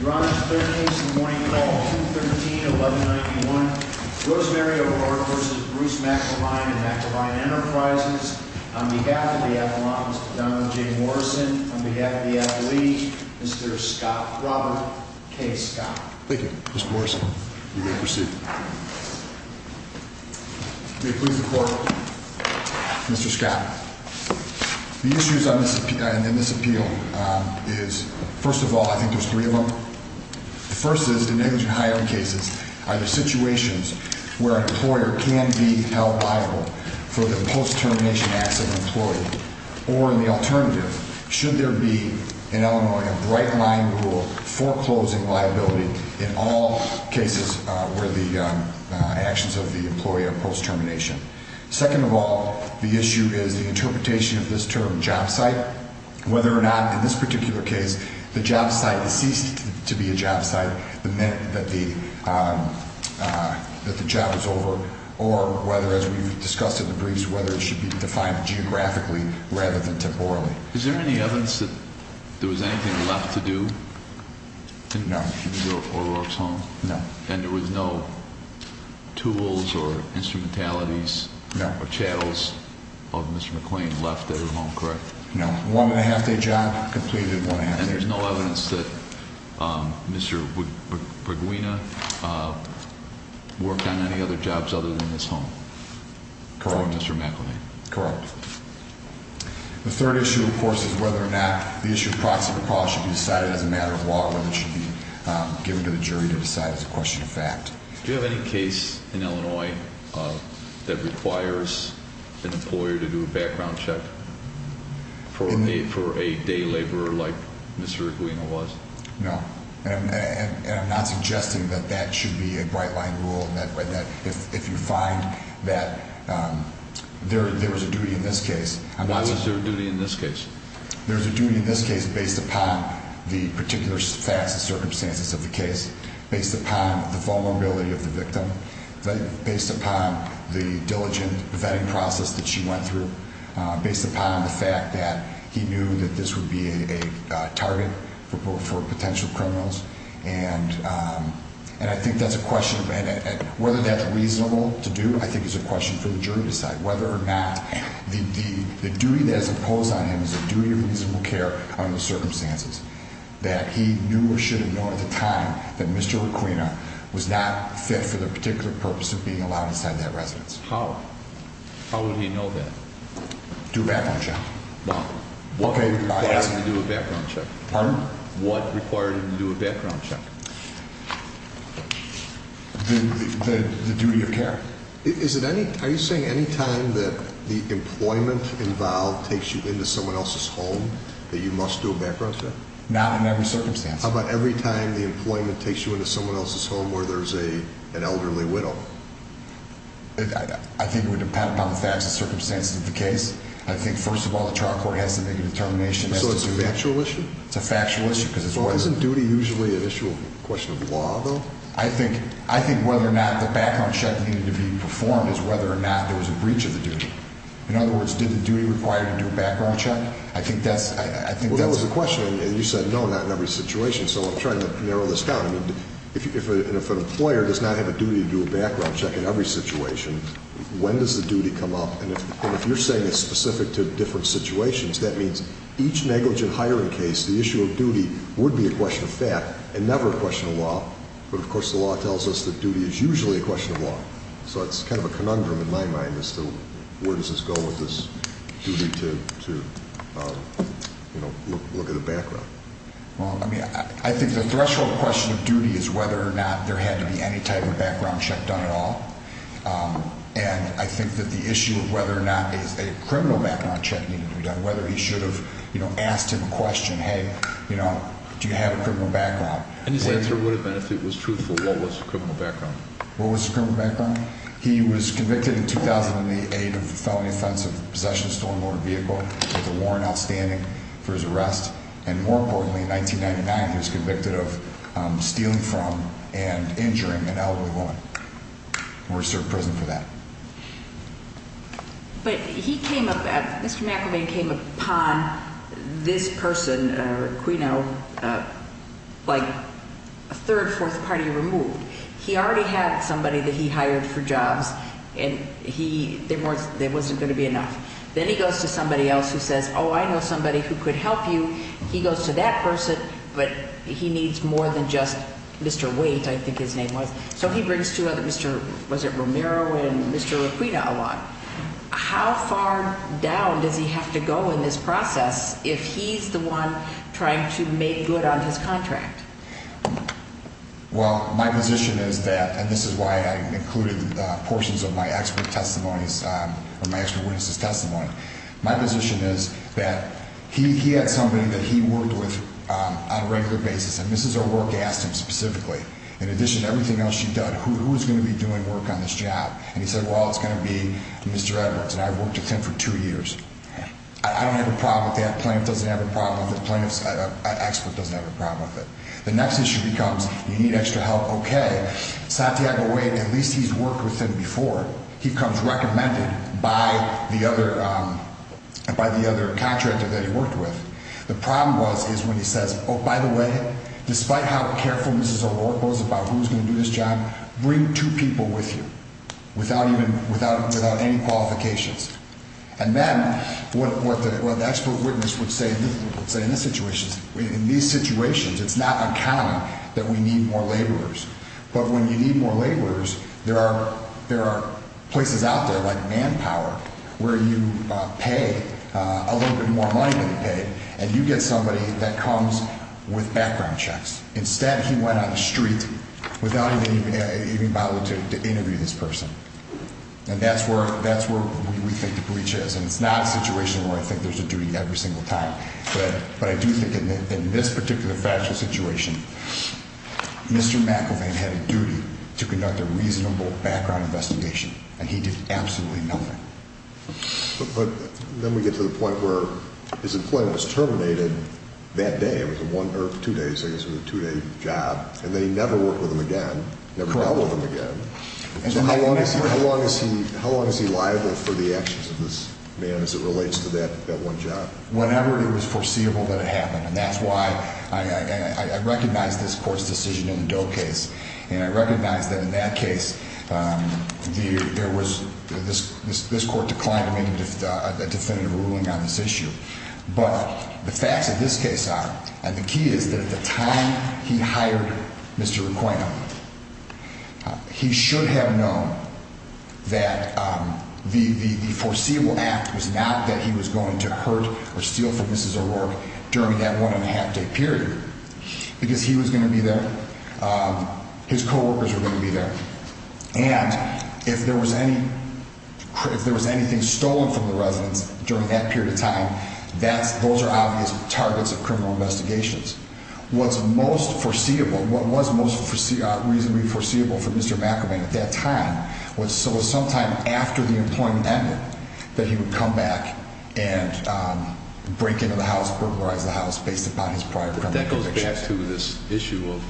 Your Honor, the third case in the morning call, 213-1191, Rosemary O'Rourke v. Bruce McIlwain and McIlwain Enterprises. On behalf of the appellant, Mr. Donald J. Morrison. On behalf of the athlete, Mr. Scott Robert K. Scott. Thank you, Mr. Morrison. We're going to proceed. May it please the Court, Mr. Scott. The issues in this appeal is, first of all, I think there's three of them. The first is the negligent hiring cases are the situations where an employer can be held liable for the post-termination acts of an employee. Or the alternative, should there be in Illinois a bright-line rule foreclosing liability in all cases where the actions of the employee are post-termination. Second of all, the issue is the interpretation of this term job site. Whether or not in this particular case, the job site ceased to be a job site the minute that the job was over. Or whether, as we've discussed in the briefs, whether it should be defined geographically rather than temporally. Is there any evidence that there was anything left to do? No. In the O'Rourke's home? No. And there was no tools or instrumentalities? No. Or chattels of Mr. McLean left at his home, correct? No. One-and-a-half-day job completed in one-and-a-half days. And there's no evidence that Mr. Bruguina worked on any other jobs other than this home? Correct. For Mr. McElnay? Correct. The third issue, of course, is whether or not the issue of proxy recall should be decided as a matter of law or whether it should be given to the jury to decide as a question of fact. Do you have any case in Illinois that requires an employer to do a background check for a day laborer like Mr. Bruguina was? No. And I'm not suggesting that that should be a bright-line rule and that if you find that there was a duty in this case. Why was there a duty in this case? There was a duty in this case based upon the particular facts and circumstances of the case, based upon the vulnerability of the victim, based upon the diligent vetting process that she went through, based upon the fact that he knew that this would be a target for potential criminals. And I think that's a question of whether that's reasonable to do, I think is a question for the duty of reasonable care on the circumstances that he knew or should have known at the time that Mr. Bruguina was not fit for the particular purpose of being allowed inside that residence. How? How would he know that? Do a background check. What required him to do a background check? Pardon? The duty of care. Are you saying any time that the employment involved takes you into someone else's home that you must do a background check? Not in every circumstance. How about every time the employment takes you into someone else's home where there's an elderly widow? I think it would depend upon the facts and circumstances of the case. I think, first of all, the trial court has to make a determination. So it's a factual issue? It's a factual issue. Well, isn't duty usually an issue of question of law, though? I think whether or not the background check needed to be performed is whether or not there was a breach of the duty. In other words, did the duty require you to do a background check? I think that's... Well, that was the question, and you said no, not in every situation. So I'm trying to narrow this down. I mean, if an employer does not have a duty to do a background check in every situation, when does the duty come up? And if you're saying it's specific to different situations, that means each negligent hiring case, the issue of duty would be a question of fact and never a question of law. But, of course, the law tells us that duty is usually a question of law. So it's kind of a conundrum in my mind as to where does this go with this duty to, you know, look at a background. Well, I mean, I think the threshold question of duty is whether or not there had to be any type of background check done at all. And I think that the issue of whether or not a criminal background check needed to be done, and whether he should have, you know, asked him a question, hey, you know, do you have a criminal background. And his answer would have been if it was truthful, what was the criminal background? What was the criminal background? He was convicted in 2008 of felony offense of possession of a stolen motor vehicle. There was a warrant outstanding for his arrest. And more importantly, in 1999, he was convicted of stealing from and injuring an elderly woman. He was served prison for that. But he came up, Mr. McElvain came upon this person, Quino, like a third, fourth party removed. He already had somebody that he hired for jobs, and there wasn't going to be enough. Then he goes to somebody else who says, oh, I know somebody who could help you. He goes to that person, but he needs more than just Mr. Waite, I think his name was. So he brings two other, was it Romero and Mr. Requina along. How far down does he have to go in this process if he's the one trying to make good on his contract? Well, my position is that, and this is why I included portions of my expert testimonies, or my expert witnesses' testimony. My position is that he had somebody that he worked with on a regular basis. And this is a work asked him specifically. In addition to everything else you've done, who is going to be doing work on this job? And he said, well, it's going to be Mr. Edwards. And I've worked with him for two years. I don't have a problem with that. A plaintiff doesn't have a problem with it. A plaintiff's expert doesn't have a problem with it. The next issue becomes, you need extra help, okay. Santiago Waite, at least he's worked with him before. He comes recommended by the other contractor that he worked with. The problem was is when he says, oh, by the way, despite how careful this is about who's going to do this job, bring two people with you without any qualifications. And then what the expert witness would say in this situation, in these situations, it's not uncommon that we need more laborers. But when you need more laborers, there are places out there like Manpower where you pay a little bit more money than you pay. And you get somebody that comes with background checks. Instead, he went on the street without even being able to interview this person. And that's where we think the breach is. And it's not a situation where I think there's a duty every single time. But I do think in this particular factual situation, Mr. McIlvain had a duty to conduct a reasonable background investigation. And he did absolutely nothing. But then we get to the point where his employment was terminated that day. It was a two-day job. And then he never worked with him again, never met with him again. Correct. So how long is he liable for the actions of this man as it relates to that one job? Whenever it was foreseeable that it happened. And that's why I recognize this court's decision in the Doe case. And I recognize that in that case, this court declined to make a definitive ruling on this issue. But the facts of this case are, and the key is that at the time he hired Mr. Requeno, he should have known that the foreseeable act was not that he was going to hurt or steal from Mrs. O'Rourke during that one-and-a-half-day period. Because he was going to be there. His co-workers were going to be there. And if there was anything stolen from the residence during that period of time, those are obvious targets of criminal investigations. What's most foreseeable, what was most reasonably foreseeable for Mr. McIlvain at that time, was sometime after the employment ended that he would come back and break into the house, based upon his prior criminal convictions. That goes back to this issue of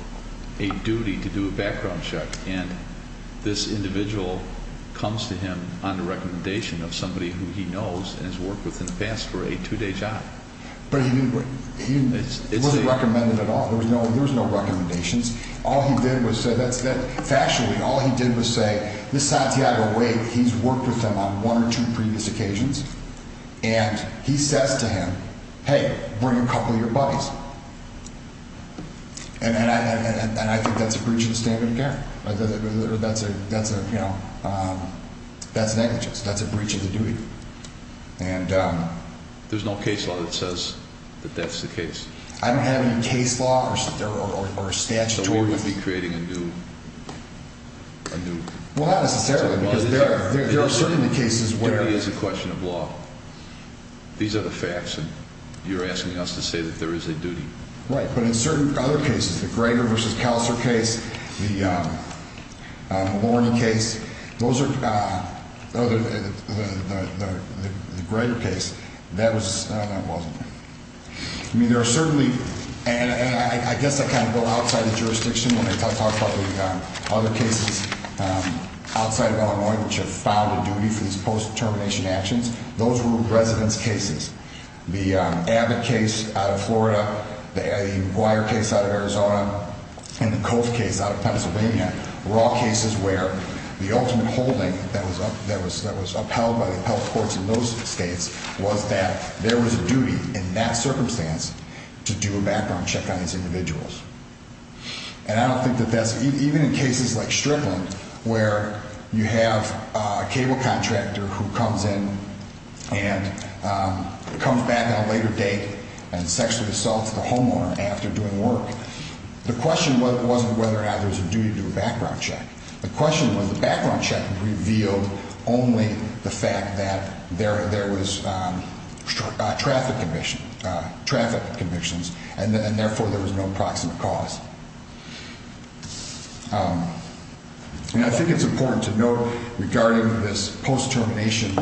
a duty to do a background check. And this individual comes to him on the recommendation of somebody who he knows and has worked with in the past for a two-day job. But he wasn't recommended at all. There was no recommendations. All he did was say, factually, all he did was say, This Santiago Wake, he's worked with him on one or two previous occasions. And he says to him, hey, bring a couple of your buddies. And I think that's a breach of the standard of care. That's negligence. That's a breach of the duty. There's no case law that says that that's the case. I haven't had any case law or statutory. Well, not necessarily, because there are certainly cases where. Duty is a question of law. These are the facts, and you're asking us to say that there is a duty. Right. But in certain other cases, the Greger v. Kauser case, the Warren case, the Greger case, that wasn't there. I mean, there are certainly, and I guess I kind of go outside the jurisdiction when I talk about the other cases outside of Illinois, which have found a duty for these post-determination actions. Those were residents' cases. The Abbott case out of Florida, the McGuire case out of Arizona, and the Cove case out of Pennsylvania were all cases where the ultimate holding that was upheld by the health courts in those states was that there was a duty in that circumstance to do a background check on these individuals. And I don't think that that's, even in cases like Strickland, where you have a cable contractor who comes in and comes back at a later date and sexually assaults the homeowner after doing work, the question wasn't whether or not there was a duty to do a background check. The question was the background check revealed only the fact that there was traffic convictions, and therefore there was no proximate cause. And I think it's important to note, regarding this post-determination,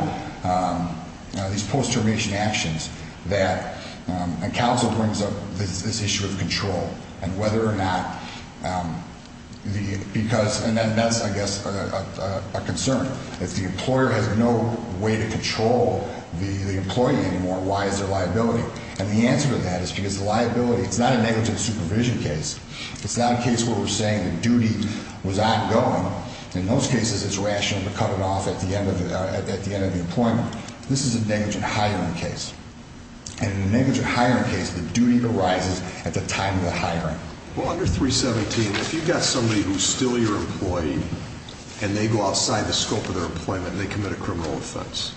these post-determination actions, that counsel brings up this issue of control and whether or not the, because, and that's, I guess, a concern. If the employer has no way to control the employee anymore, why is there liability? And the answer to that is because the liability, it's not a negligent supervision case. It's not a case where we're saying the duty was ongoing. In those cases, it's rational to cut it off at the end of the employment. This is a negligent hiring case. And in a negligent hiring case, the duty arises at the time of the hiring. Well, under 317, if you've got somebody who's still your employee and they go outside the scope of their employment and they commit a criminal offense,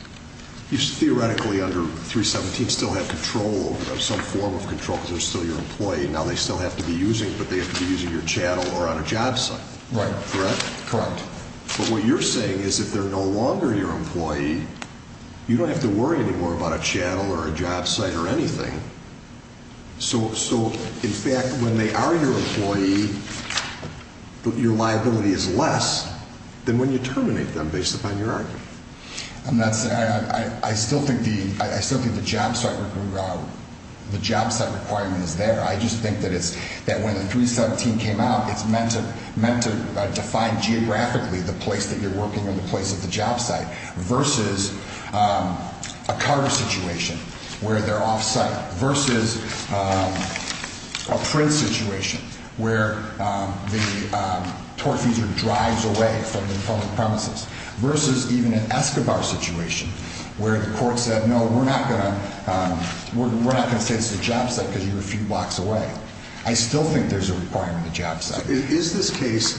you theoretically under 317 still have control, some form of control because they're still your employee. Now they still have to be using, but they have to be using your channel or on a job site. Right. Correct? Correct. But what you're saying is if they're no longer your employee, you don't have to worry anymore about a channel or a job site or anything. So, in fact, when they are your employee, your liability is less than when you terminate them based upon your argument. I still think the job site requirement is there. I just think that when the 317 came out, it's meant to define geographically the place that you're working and the place of the job site versus a car situation where they're off-site versus a print situation where the torque user drives away from the premises versus even an Escobar situation where the court said, no, we're not going to say it's a job site because you're a few blocks away. I still think there's a requirement to job site. Is this case,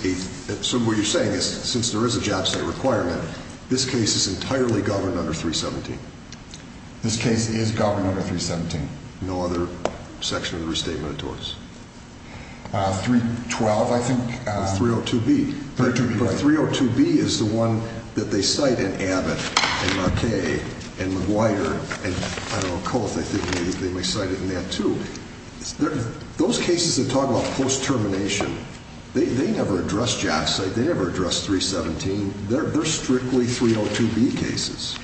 so what you're saying is since there is a job site requirement, this case is entirely governed under 317? This case is governed under 317. No other section of the restatement of torts? 312, I think. 302B. 302B. 302B is the one that they cite in Abbott and Marquette and McGuire and, I don't know, Coles. I think they may cite it in that, too. Those cases that talk about post-termination, they never address job site. They never address 317. They're strictly 302B cases.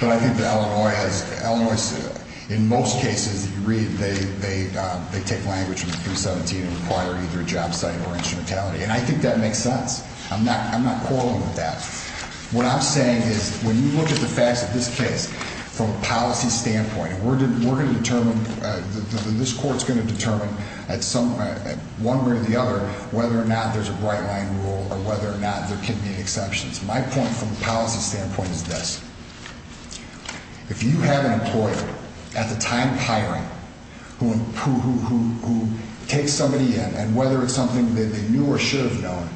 But I think that Illinois, in most cases that you read, they take language from 317 and require either a job site or instrumentality. And I think that makes sense. I'm not quarreling with that. What I'm saying is when you look at the facts of this case from a policy standpoint, we're going to determine, this court is going to determine at one way or the other whether or not there's a bright line rule or whether or not there can be exceptions. My point from a policy standpoint is this. If you have an employer at the time of hiring who takes somebody in and whether it's something they knew or should have known,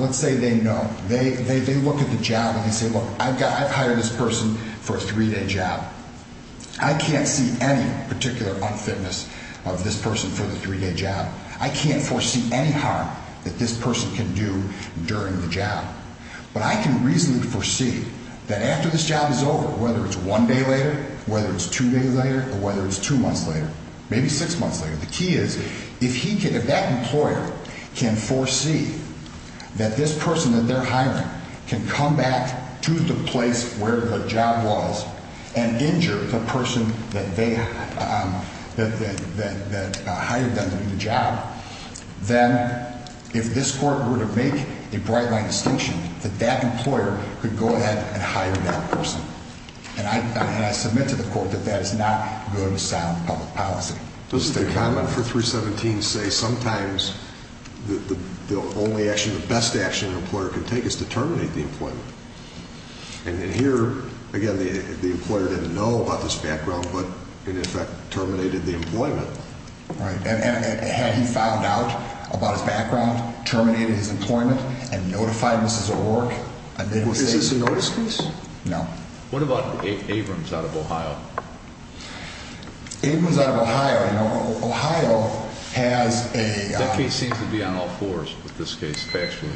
let's say they know, they look at the job and they say, look, I've hired this person for a three-day job. I can't see any particular unfitness of this person for the three-day job. I can't foresee any harm that this person can do during the job. But I can reasonably foresee that after this job is over, whether it's one day later, whether it's two days later, or whether it's two months later, maybe six months later, the key is if that employer can foresee that this person that they're hiring can come back to the place where the job was and injure the person that hired them to do the job, then if this court were to make a bright line distinction, that that employer could go ahead and hire that person. And I submit to the court that that is not going to sound public policy. Does the comment for 317 say sometimes the only action, the best action an employer can take is to terminate the employment? And then here, again, the employer didn't know about this background, but in effect terminated the employment. And had he found out about his background, terminated his employment, and notified Mrs. O'Rourke? Is this a notice case? No. What about Abrams out of Ohio? Abrams out of Ohio, you know, Ohio has a... That case seems to be on all fours with this case, factually.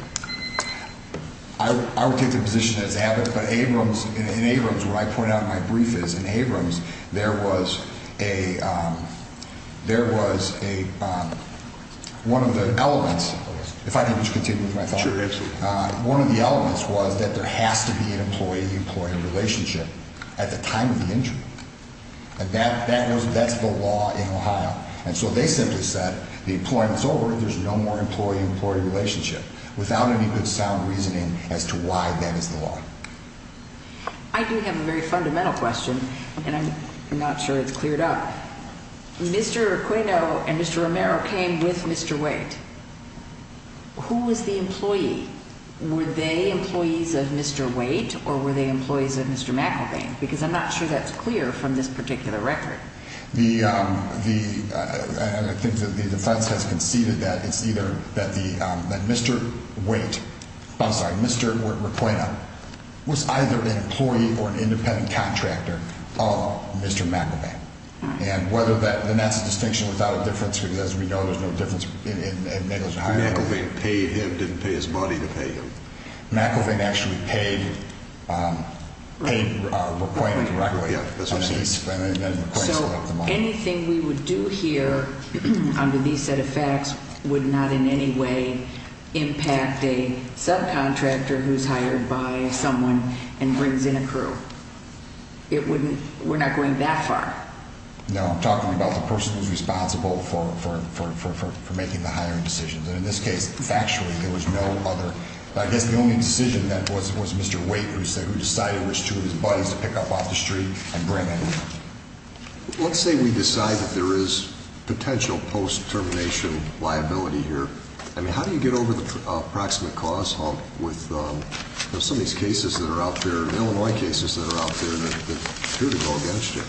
I would take the position that it's Abbott. But in Abrams, where I point out in my brief is, in Abrams, there was one of the elements. If I can just continue with my thought. Sure, absolutely. One of the elements was that there has to be an employee-employee relationship at the time of the injury. And that's the law in Ohio. And so they simply said the employment's over. There's no more employee-employee relationship without any good sound reasoning as to why that is the law. I do have a very fundamental question, and I'm not sure it's cleared up. Mr. Aquino and Mr. Romero came with Mr. Waite. Who was the employee? Were they employees of Mr. Waite or were they employees of Mr. McElveen? Because I'm not sure that's clear from this particular record. I think that the defense has conceded that it's either that Mr. Waite – I'm sorry, Mr. Aquino – was either an employee or an independent contractor of Mr. McElveen. And whether that – and that's a distinction without a difference because, as we know, there's no difference in negligent hiring. McElveen paid him, didn't pay his money to pay him. McElveen actually paid Aquino directly. So anything we would do here under these set of facts would not in any way impact a subcontractor who's hired by someone and brings in a crew. It wouldn't – we're not going that far. No, I'm talking about the person who's responsible for making the hiring decisions. And in this case, factually, there was no other – I guess the only decision then was Mr. Waite, who decided which two of his buddies to pick up off the street and bring in. Let's say we decide that there is potential post-termination liability here. I mean, how do you get over the proximate cause hump with some of these cases that are out there, Illinois cases that are out there, that appear to go against it?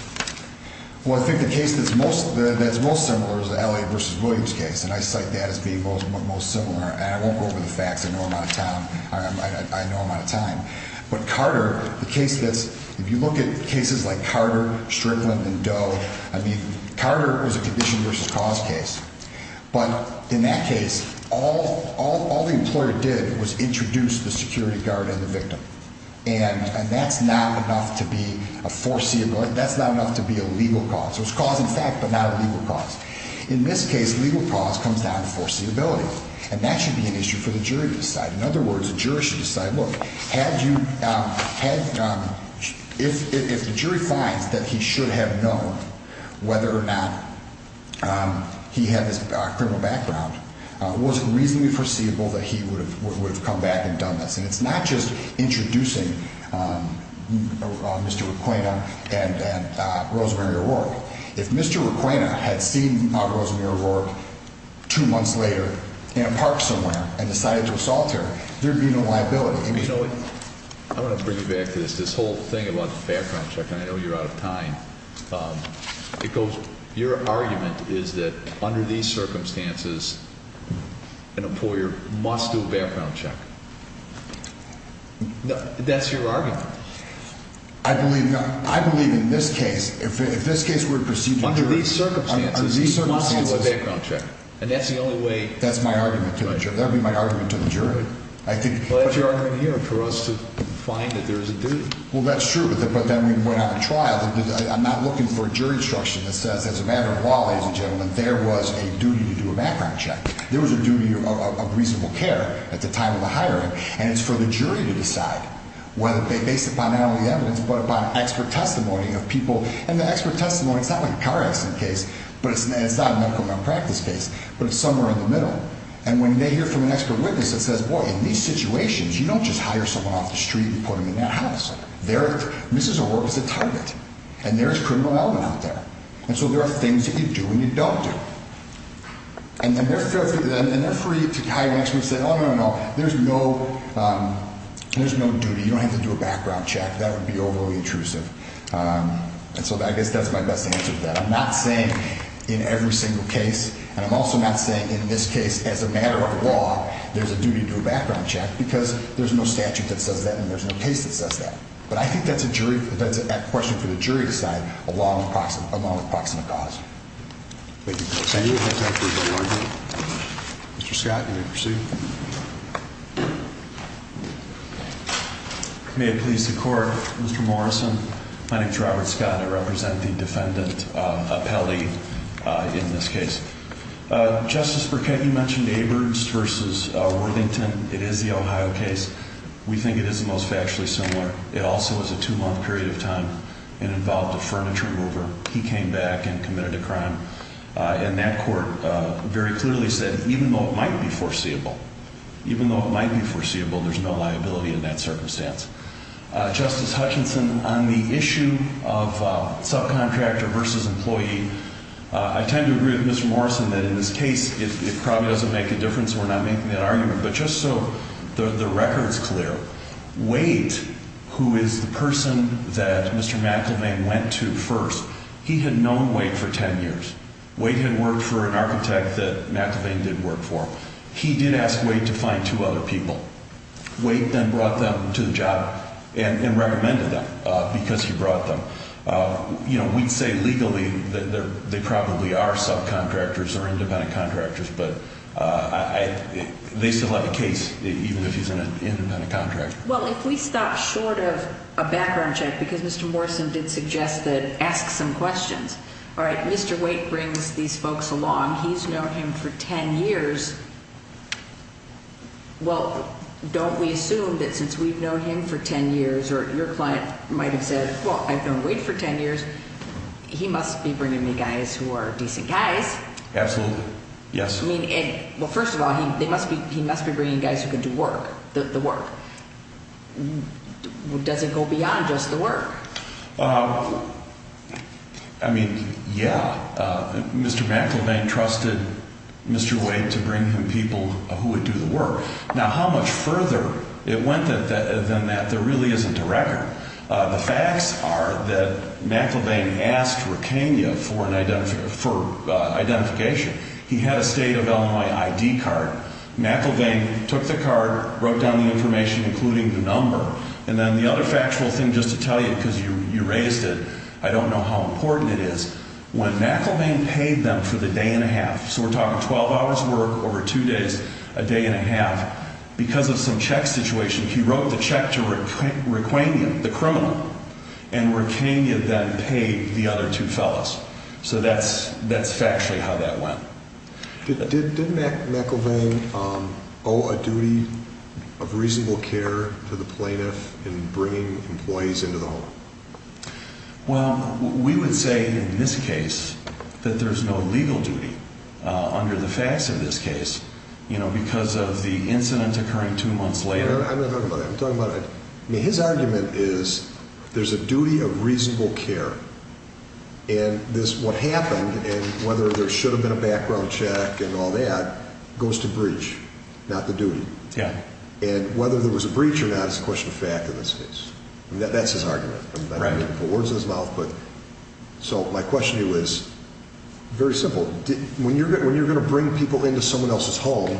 Well, I think the case that's most similar is the Elliott v. Williams case, and I cite that as being most similar. And I won't go over the facts. I know I'm out of time. But Carter, the case that's – if you look at cases like Carter, Strickland, and Doe, I mean, Carter was a condition versus cause case. But in that case, all the employer did was introduce the security guard and the victim. And that's not enough to be a foreseeable – that's not enough to be a legal cause. It was cause in fact, but not a legal cause. In this case, legal cause comes down to foreseeability, and that should be an issue for the jury to decide. Look, had you – if the jury finds that he should have known whether or not he had this criminal background, was it reasonably foreseeable that he would have come back and done this? And it's not just introducing Mr. Requena and Rosemary O'Rourke. If Mr. Requena had seen Rosemary O'Rourke two months later in a park somewhere and decided to assault her, there would be no liability. I mean, you know what? I want to bring you back to this, this whole thing about the background check, and I know you're out of time. It goes – your argument is that under these circumstances, an employer must do a background check. That's your argument. I believe – I believe in this case, if this case were to proceed – Under these circumstances, he must do a background check. And that's the only way – But you're arguing here for us to find that there is a duty. Well, that's true. But then we went on to trial. I'm not looking for a jury instruction that says, as a matter of law, ladies and gentlemen, there was a duty to do a background check. There was a duty of reasonable care at the time of the hiring, and it's for the jury to decide whether – based upon not only evidence but upon expert testimony of people. And the expert testimony – it's not like a car accident case, and it's not a medical malpractice case, but it's somewhere in the middle. And when they hear from an expert witness that says, boy, in these situations, you don't just hire someone off the street and put them in that house. They're – Mrs. O'Rourke is a target, and there is criminal element out there. And so there are things that you do and you don't do. And they're free to hire an expert who says, oh, no, no, no, there's no – there's no duty. You don't have to do a background check. That would be overly intrusive. And so I guess that's my best answer to that. I'm not saying in every single case, and I'm also not saying in this case, as a matter of law, there's a duty to do a background check because there's no statute that says that and there's no case that says that. But I think that's a jury – that's a question for the jury to decide along with proximate – along with proximate cause. Thank you. Thank you. Mr. Scott, you may proceed. May it please the Court, Mr. Morrison, my name is Robert Scott. I represent the defendant appellee in this case. Justice Burkett, you mentioned Aberds v. Worthington. It is the Ohio case. We think it is the most factually similar. It also was a two-month period of time and involved a furniture mover. He came back and committed a crime. And that court very clearly said, even though it might be foreseeable, even though it might be foreseeable, there's no liability in that circumstance. Justice Hutchinson, on the issue of subcontractor versus employee, I tend to agree with Mr. Morrison that in this case it probably doesn't make a difference. We're not making that argument. But just so the record's clear, Waite, who is the person that Mr. McElvain went to first, he had known Waite for 10 years. Waite had worked for an architect that McElvain did work for. He did ask Waite to find two other people. Waite then brought them to the job and recommended them because he brought them. You know, we'd say legally they probably are subcontractors or independent contractors, but they still have a case even if he's an independent contractor. Well, if we stop short of a background check, because Mr. Morrison did suggest that ask some questions. All right, Mr. Waite brings these folks along. He's known him for 10 years. Well, don't we assume that since we've known him for 10 years, or your client might have said, well, I've known Waite for 10 years, he must be bringing me guys who are decent guys. Absolutely, yes. I mean, well, first of all, he must be bringing guys who can do work, the work. Does it go beyond just the work? I mean, yeah. Mr. McElvain trusted Mr. Waite to bring him people who would do the work. Now, how much further it went than that, there really isn't a record. The facts are that McElvain asked Rickania for identification. He had a state of Illinois ID card. McElvain took the card, wrote down the information, including the number. And then the other factual thing, just to tell you, because you raised it, I don't know how important it is, when McElvain paid them for the day and a half, so we're talking 12 hours' work over two days, a day and a half, because of some check situation, he wrote the check to Rickania, the criminal, and Rickania then paid the other two fellas. So that's factually how that went. Did McElvain owe a duty of reasonable care to the plaintiff in bringing employees into the home? Well, we would say in this case that there's no legal duty under the facts of this case, because of the incident occurring two months later. I'm not talking about that. I'm talking about his argument is there's a duty of reasonable care. And what happened, and whether there should have been a background check and all that, goes to breach, not the duty. And whether there was a breach or not is a question of fact in this case. That's his argument. I'm not going to put words in his mouth. So my question to you is very simple. When you're going to bring people into someone else's home,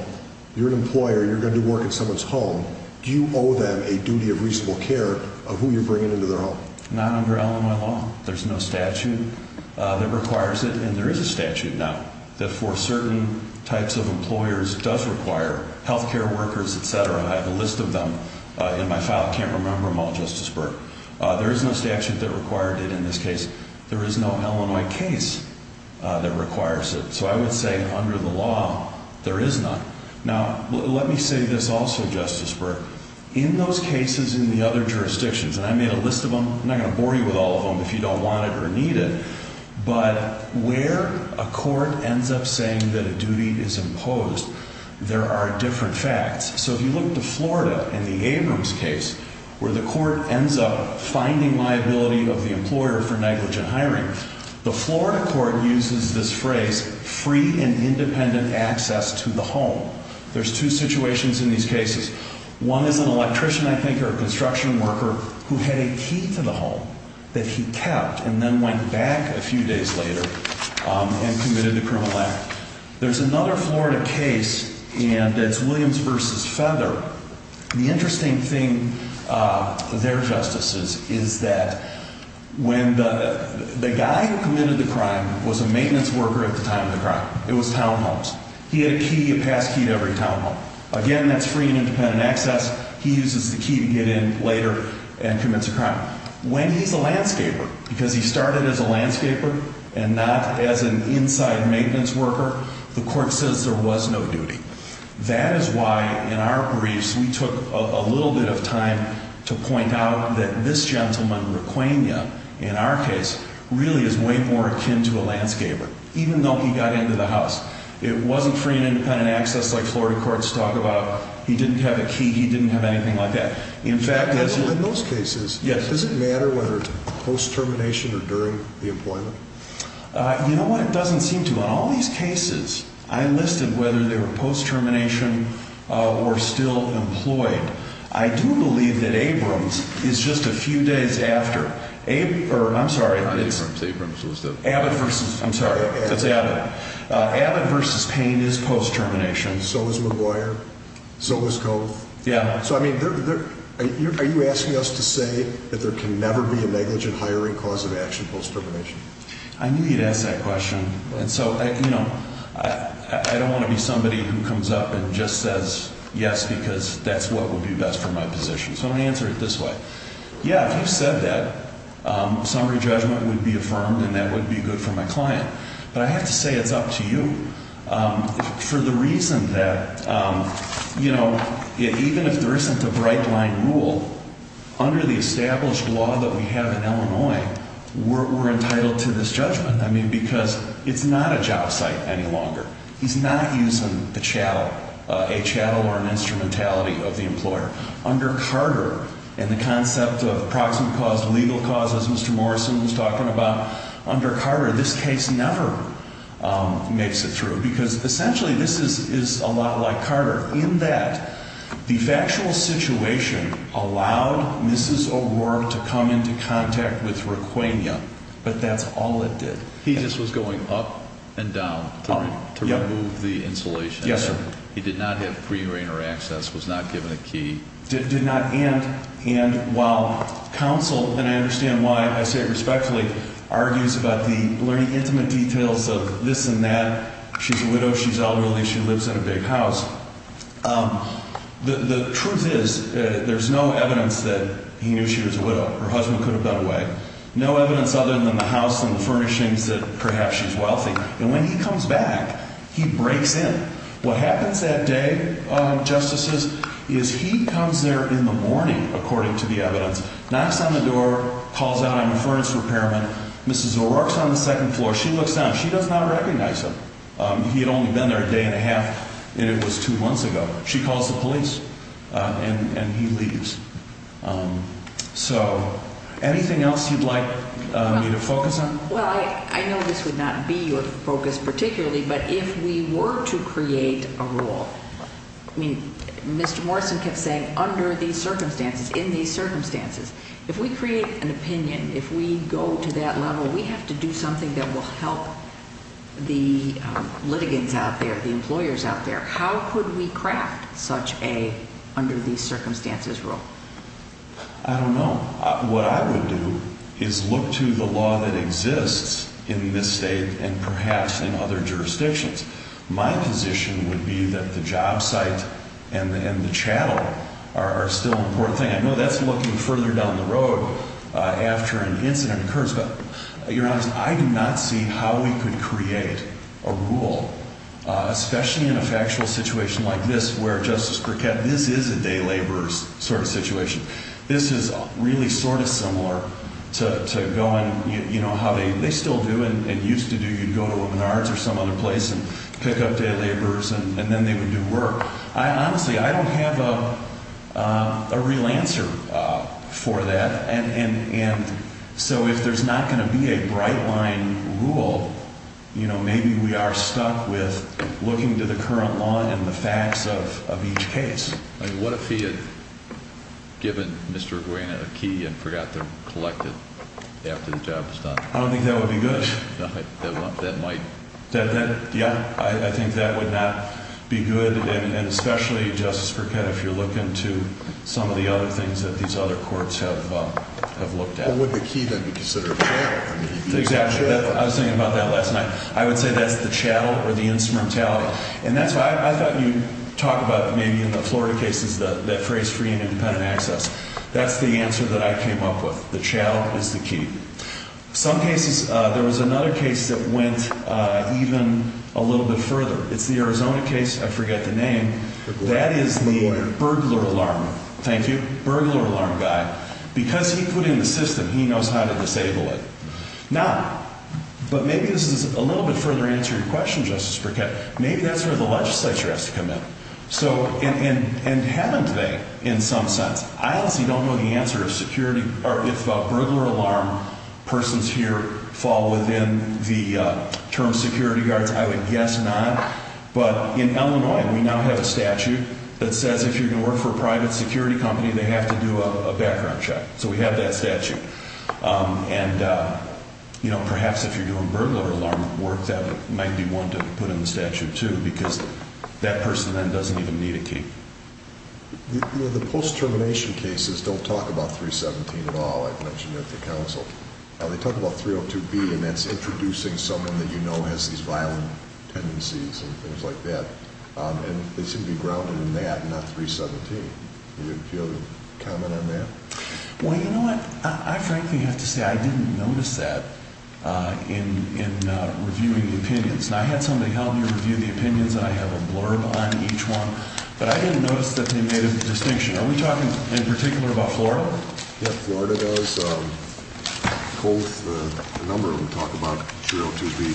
you're an employer, you're going to do work in someone's home, do you owe them a duty of reasonable care of who you're bringing into their home? Not under Illinois law. There's no statute that requires it. And there is a statute now that for certain types of employers does require health care workers, et cetera. I have a list of them in my file. I can't remember them all, Justice Burke. There is no statute that required it in this case. There is no Illinois case that requires it. So I would say under the law, there is none. Now, let me say this also, Justice Burke. In those cases in the other jurisdictions, and I made a list of them, I'm not going to bore you with all of them if you don't want it or need it, but where a court ends up saying that a duty is imposed, there are different facts. So if you look to Florida in the Abrams case, where the court ends up finding liability of the employer for negligent hiring, the Florida court uses this phrase free and independent access to the home. There's two situations in these cases. One is an electrician, I think, or a construction worker who had a key to the home that he kept and then went back a few days later and committed the criminal act. There's another Florida case, and it's Williams v. Feather. The interesting thing there, Justices, is that when the guy who committed the crime was a maintenance worker at the time of the crime. It was townhomes. He had a key, a pass key, to every townhome. Again, that's free and independent access. He uses the key to get in later and commit the crime. When he's a landscaper, because he started as a landscaper and not as an inside maintenance worker, the court says there was no duty. That is why in our briefs we took a little bit of time to point out that this gentleman, Requena, in our case, really is way more akin to a landscaper, even though he got into the house. It wasn't free and independent access like Florida courts talk about. He didn't have a key. He didn't have anything like that. In fact, in those cases, does it matter whether it's post-termination or during the employment? You know what? It doesn't seem to. In all these cases, I listed whether they were post-termination or still employed. I do believe that Abrams is just a few days after. I'm sorry. Not Abrams. Abrams was the... Abbott v. I'm sorry. It's Abbott. It's Abbott. Abbott v. Payne is post-termination. So is McGuire. So is Cove. Yeah. So, I mean, are you asking us to say that there can never be a negligent hiring cause of action post-termination? I knew you'd ask that question. And so, you know, I don't want to be somebody who comes up and just says yes because that's what would be best for my position. So I'm going to answer it this way. Yeah, if you said that, summary judgment would be affirmed and that would be good for my client. But I have to say it's up to you. For the reason that, you know, even if there isn't a bright line rule, under the established law that we have in Illinois, we're entitled to this judgment. I mean, because it's not a job site any longer. He's not using the chattel, a chattel or an instrumentality of the employer. Under Carter and the concept of proximate cause, legal cause, as Mr. Morrison was talking about, under Carter, this case never makes it through. Because essentially this is a lot like Carter in that the factual situation allowed Mrs. O'Rourke to come into contact with Requena, but that's all it did. He just was going up and down to remove the insulation. Yes, sir. He did not have pre-reign or access, was not given a key. Did not. And while counsel, and I understand why I say it respectfully, argues about the very intimate details of this and that, she's a widow, she's elderly, she lives in a big house. The truth is there's no evidence that he knew she was a widow. Her husband could have got away. No evidence other than the house and the furnishings that perhaps she's wealthy. And when he comes back, he breaks in. What happens that day, Justices, is he comes there in the morning, according to the evidence, knocks on the door, calls out, I'm a furnace repairman. Mrs. O'Rourke's on the second floor. She looks down. She does not recognize him. He had only been there a day and a half, and it was two months ago. She calls the police, and he leaves. So anything else you'd like me to focus on? Well, I know this would not be your focus particularly, but if we were to create a rule, I mean, Mr. Morrison kept saying under these circumstances, in these circumstances. If we create an opinion, if we go to that level, we have to do something that will help the litigants out there, the employers out there. How could we craft such a under-these-circumstances rule? I don't know. What I would do is look to the law that exists in this state and perhaps in other jurisdictions. My position would be that the job site and the chattel are still an important thing. I know that's looking further down the road after an incident occurs, but you're honest. I do not see how we could create a rule, especially in a factual situation like this where, Justice Burkett, this is a day laborer's sort of situation. This is really sort of similar to going, you know, how they still do and used to do. You'd go to a Menards or some other place and pick up day laborers, and then they would do work. Honestly, I don't have a real answer for that. And so if there's not going to be a bright-line rule, you know, maybe we are stuck with looking to the current law and the facts of each case. I mean, what if he had given Mr. Aguina a key and forgot to collect it after the job was done? I don't think that would be good. That might. Yeah. I think that would not be good, and especially, Justice Burkett, if you're looking to some of the other things that these other courts have looked at. Well, would the key then be considered a key? Exactly. I was thinking about that last night. I would say that's the chattel or the instrumentality. And that's why I thought you'd talk about maybe in the Florida cases that phrase free and independent access. That's the answer that I came up with. The chattel is the key. Some cases, there was another case that went even a little bit further. It's the Arizona case. I forget the name. That is the burglar alarm. Thank you. Burglar alarm guy. Because he put in the system, he knows how to disable it. No. But maybe this is a little bit further answer to your question, Justice Burkett. Maybe that's where the legislature has to come in. And haven't they in some sense? I honestly don't know the answer if burglar alarm persons here fall within the term security guards. I would guess not. But in Illinois, we now have a statute that says if you're going to work for a private security company, they have to do a background check. So we have that statute. And, you know, perhaps if you're doing burglar alarm work, that might be one to put in the statute, too, because that person then doesn't even need a key. The post-termination cases don't talk about 317 at all. I've mentioned that to counsel. They talk about 302B, and that's introducing someone that you know has these violent tendencies and things like that. And they seem to be grounded in that and not 317. Do you have a comment on that? Well, you know what, I frankly have to say I didn't notice that in reviewing the opinions. Now, I had somebody help me review the opinions, and I have a blurb on each one. But I didn't notice that they made a distinction. Are we talking in particular about Florida? Yeah, Florida does. A number of them talk about 302B.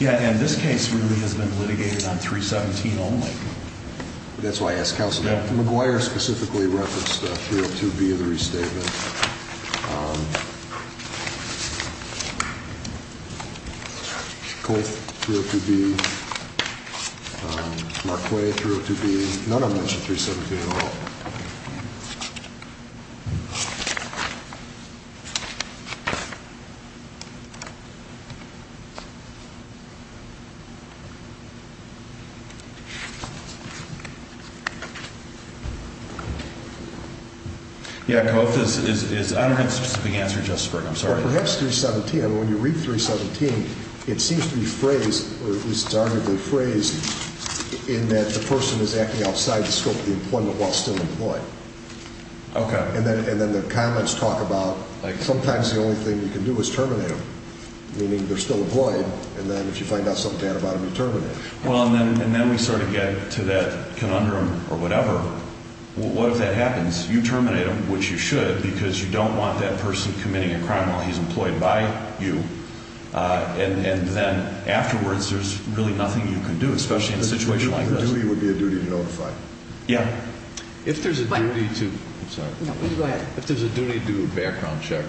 Yeah, and this case really has been litigated on 317 only. That's why I asked counsel. McGuire specifically referenced 302B in the restatement. Kolf, 302B. Marquette, 302B. None of them mention 317 at all. Yeah, Kolf, I don't have a specific answer just for you. I'm sorry. Perhaps 317. I mean, when you read 317, it seems to be phrased, or at least it's arguably phrased, in that the person is acting outside the scope of the employment while still employed. Okay. And then the comments talk about sometimes the only thing you can do is terminate them, meaning they're still employed, and then if you find out something bad about them, you terminate them. Well, and then we sort of get to that conundrum or whatever. What if that happens? You terminate them, which you should, because you don't want that person committing a crime while he's employed by you. And then afterwards, there's really nothing you can do, especially in a situation like this. The duty would be a duty to notify. Yeah. If there's a duty to do a background check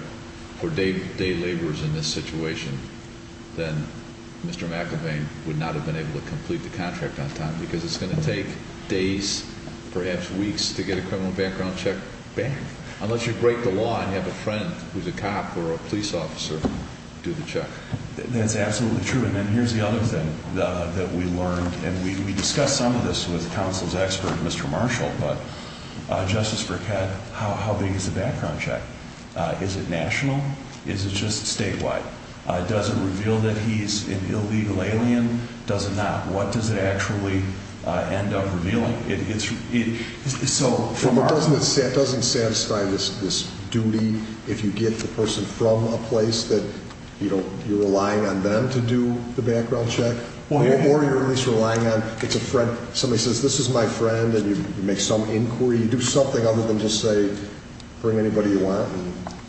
for day laborers in this situation, then Mr. McIlvain would not have been able to complete the contract on time because it's going to take days, perhaps weeks, to get a criminal background check back, unless you break the law and have a friend who's a cop or a police officer do the check. That's absolutely true. And then here's the other thing that we learned, and we discussed some of this with counsel's expert, Mr. Marshall, but Justice Brickett, how big is the background check? Is it national? Is it just statewide? Does it reveal that he's an illegal alien? Does it not? What does it actually end up revealing? It doesn't satisfy this duty if you get the person from a place that you're relying on them to do the background check, or you're at least relying on it's a friend. Somebody says, this is my friend, and you make some inquiry. You do something other than just say, bring anybody you want.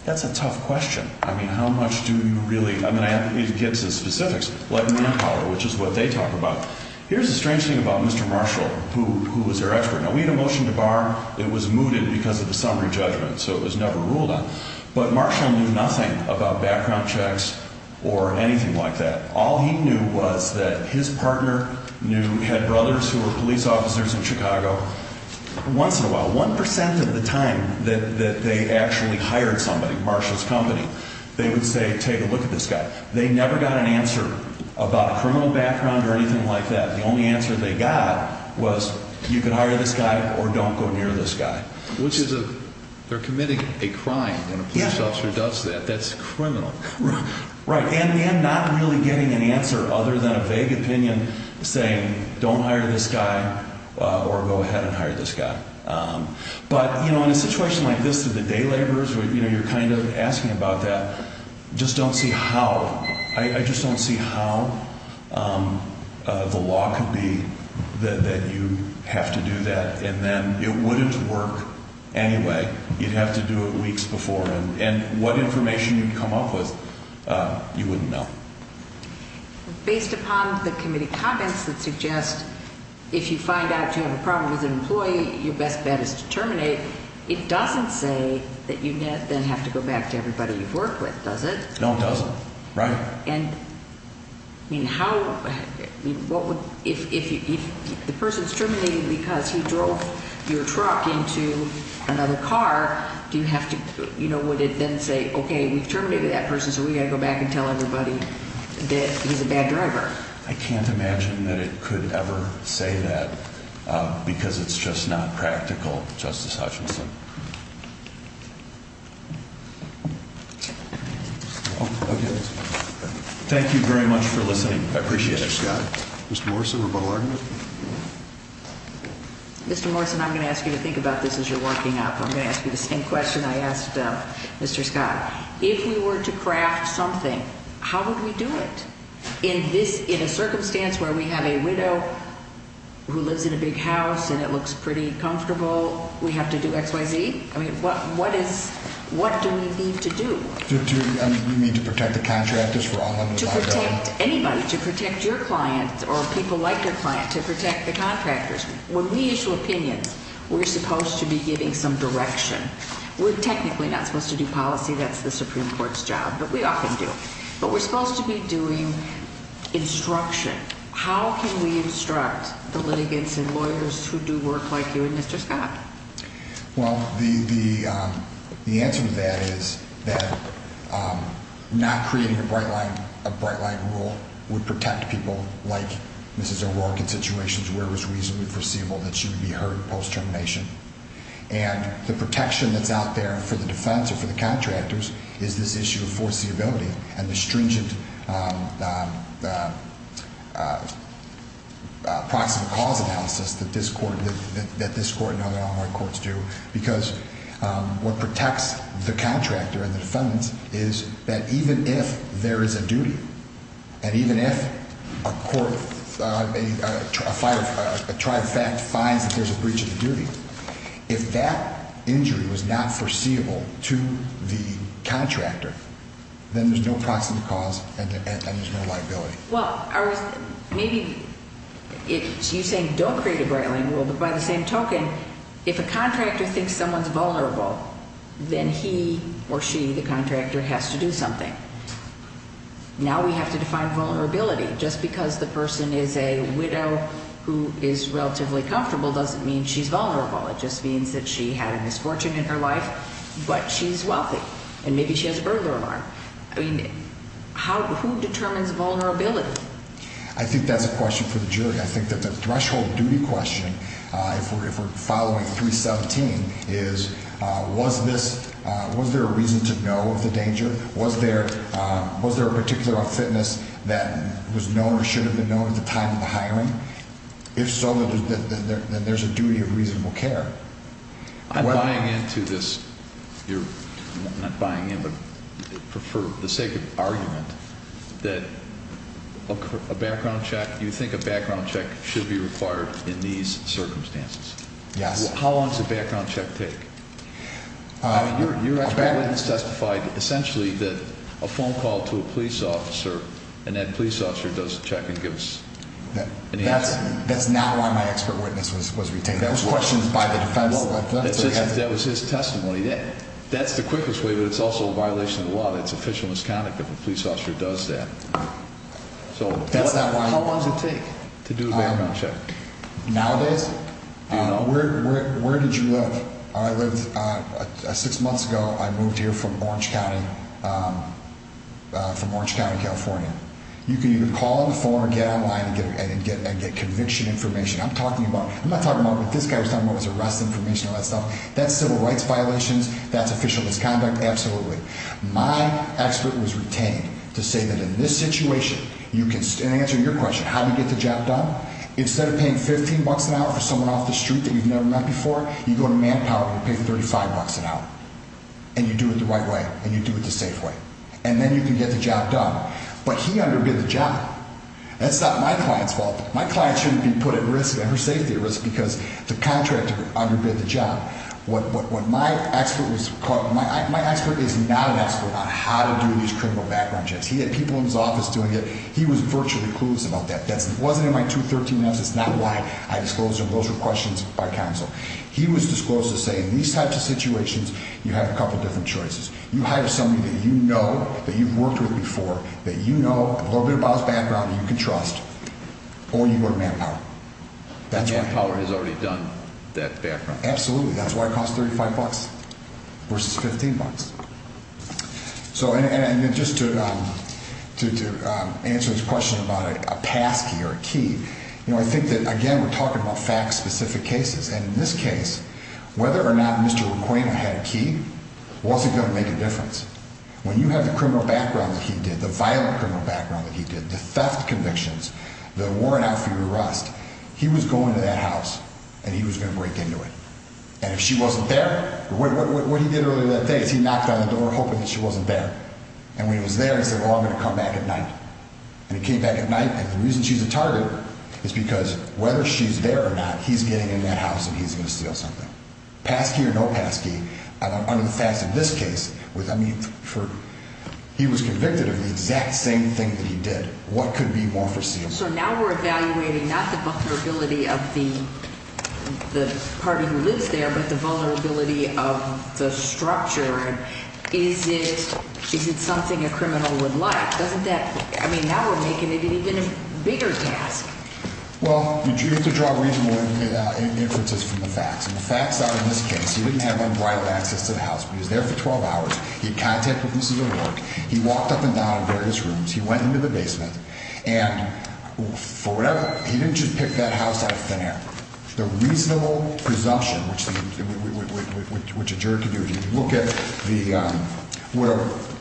That's a tough question. I mean, how much do you really? I mean, I have to get to the specifics. Let me follow, which is what they talk about. Here's the strange thing about Mr. Marshall, who was their expert. Now, we had a motion to bar. It was mooted because of the summary judgment, so it was never ruled on. But Marshall knew nothing about background checks or anything like that. All he knew was that his partner had brothers who were police officers in Chicago. Once in a while, 1% of the time that they actually hired somebody, Marshall's company, they would say, take a look at this guy. They never got an answer about a criminal background or anything like that. The only answer they got was, you can hire this guy or don't go near this guy. Which is a, they're committing a crime when a police officer does that. That's criminal. Right. And not really getting an answer other than a vague opinion saying, don't hire this guy or go ahead and hire this guy. But, you know, in a situation like this, the day laborers, you know, you're kind of asking about that. Just don't see how. I just don't see how the law could be that you have to do that and then it wouldn't work anyway. You'd have to do it weeks before. And what information you'd come up with, you wouldn't know. Based upon the committee comments that suggest if you find out you have a problem with an employee, your best bet is to terminate, it doesn't say that you then have to go back to everybody you've worked with, does it? No, it doesn't. Right. And, I mean, how, what would, if the person's terminated because he drove your truck into another car, do you have to, you know, how would it then say, okay, we've terminated that person, so we've got to go back and tell everybody that he's a bad driver? I can't imagine that it could ever say that because it's just not practical, Justice Hutchinson. Thank you very much for listening. I appreciate it. Mr. Scott. Mr. Morrison, rebuttal argument? Mr. Morrison, I'm going to ask you to think about this as you're working up. I'm going to ask you the same question I asked Mr. Scott. If we were to craft something, how would we do it? In this, in a circumstance where we have a widow who lives in a big house and it looks pretty comfortable, we have to do X, Y, Z? I mean, what is, what do we need to do? Do you mean to protect the contractors? To protect anybody, to protect your client or people like your client, to protect the contractors. When we issue opinions, we're supposed to be giving some direction. We're technically not supposed to do policy. That's the Supreme Court's job, but we often do. But we're supposed to be doing instruction. How can we instruct the litigants and lawyers who do work like you and Mr. Scott? Well, the answer to that is that not creating a bright line rule would protect people like Mrs. O'Rourke in situations where it was reasonably foreseeable that she would be heard post-termination. And the protection that's out there for the defense or for the contractors is this issue of foreseeability and the stringent proximate cause analysis that this court and other Alamo courts do. Because what protects the contractor and the defendants is that even if there is a duty, and even if a tribe finds that there's a breach of the duty, if that injury was not foreseeable to the contractor, then there's no proximate cause and there's no liability. Well, maybe you're saying don't create a bright line rule, but by the same token, if a contractor thinks someone's vulnerable, then he or she, the contractor, has to do something. Now we have to define vulnerability. Just because the person is a widow who is relatively comfortable doesn't mean she's vulnerable. It just means that she had a misfortune in her life, but she's wealthy, and maybe she has a burglar alarm. I mean, who determines vulnerability? I think that the threshold duty question, if we're following 317, is was there a reason to know of the danger? Was there a particular fitness that was known or should have been known at the time of the hiring? If so, then there's a duty of reasonable care. I'm buying into this. I'm not buying in, but for the sake of argument, that a background check, you think a background check should be required in these circumstances? Yes. How long does a background check take? Your expert witness testified essentially that a phone call to a police officer and that police officer does the check and gives an answer. That's not why my expert witness was retained. That was questioned by the defense. That was his testimony. That's the quickest way, but it's also a violation of the law. That's official misconduct if a police officer does that. How long does it take to do a background check? Nowadays? Do you know? Where did you live? I lived six months ago. I moved here from Orange County, California. You can either call on the phone or get online and get conviction information. I'm not talking about what this guy was talking about was arrest information and all that stuff. That's civil rights violations. That's official misconduct. Absolutely. My expert was retained to say that in this situation, in answer to your question, how do you get the job done? Instead of paying $15 an hour for someone off the street that you've never met before, you go to Manpower and you pay $35 an hour. And you do it the right way. And you do it the safe way. And then you can get the job done. But he underbid the job. That's not my client's fault. My client shouldn't be put at risk and her safety at risk because the contractor underbid the job. My expert is not an expert on how to do these criminal background checks. He had people in his office doing it. He was virtually clueless about that. That wasn't in my 213 message. That's not why I disclosed them. Those were questions by counsel. He was disclosed to say in these types of situations, you have a couple different choices. You hire somebody that you know, that you've worked with before, that you know a little bit about his background and you can trust. Or you go to Manpower. And Manpower has already done that background check? Absolutely. That's why it costs $35 versus $15. And just to answer his question about a pass key or a key, I think that, again, we're talking about fact-specific cases. And in this case, whether or not Mr. Requeno had a key wasn't going to make a difference. When you have the criminal background that he did, the violent criminal background that he did, the theft convictions, the warrant out for your arrest, he was going to that house and he was going to break into it. And if she wasn't there, what he did earlier that day is he knocked on the door hoping that she wasn't there. And when he was there, he said, oh, I'm going to come back at night. And he came back at night, and the reason she's a target is because whether she's there or not, he's getting in that house and he's going to steal something. Pass key or no pass key, under the facts of this case, he was convicted of the exact same thing that he did. What could be more foreseeable? So now we're evaluating not the vulnerability of the party who lives there but the vulnerability of the structure. Is it something a criminal would like? Now we're making it an even bigger task. Well, you have to draw reasonable inferences from the facts. And the facts are, in this case, he didn't have unbridled access to the house. He was there for 12 hours. He had contact with Mrs. O'Rourke. He walked up and down various rooms. He went into the basement. And for whatever, he didn't just pick that house out of thin air. The reasonable presumption, which a jury can do, if you look at the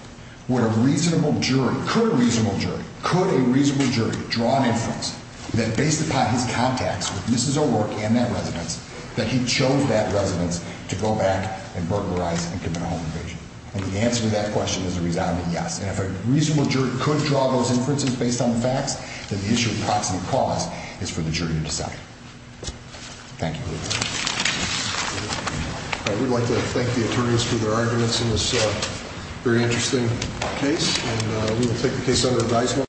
– what a reasonable jury – could a reasonable jury – could a reasonable jury draw an inference that, based upon his contacts with Mrs. O'Rourke and that residence, that he chose that residence to go back and burglarize and commit a home invasion? And the answer to that question is a resounding yes. And if a reasonable jury could draw those inferences based on the facts, then the issue of proxy cause is for the jury to decide. Thank you. All right. We'd like to thank the attorneys for their arguments in this very interesting case. And we will take the case under advisement.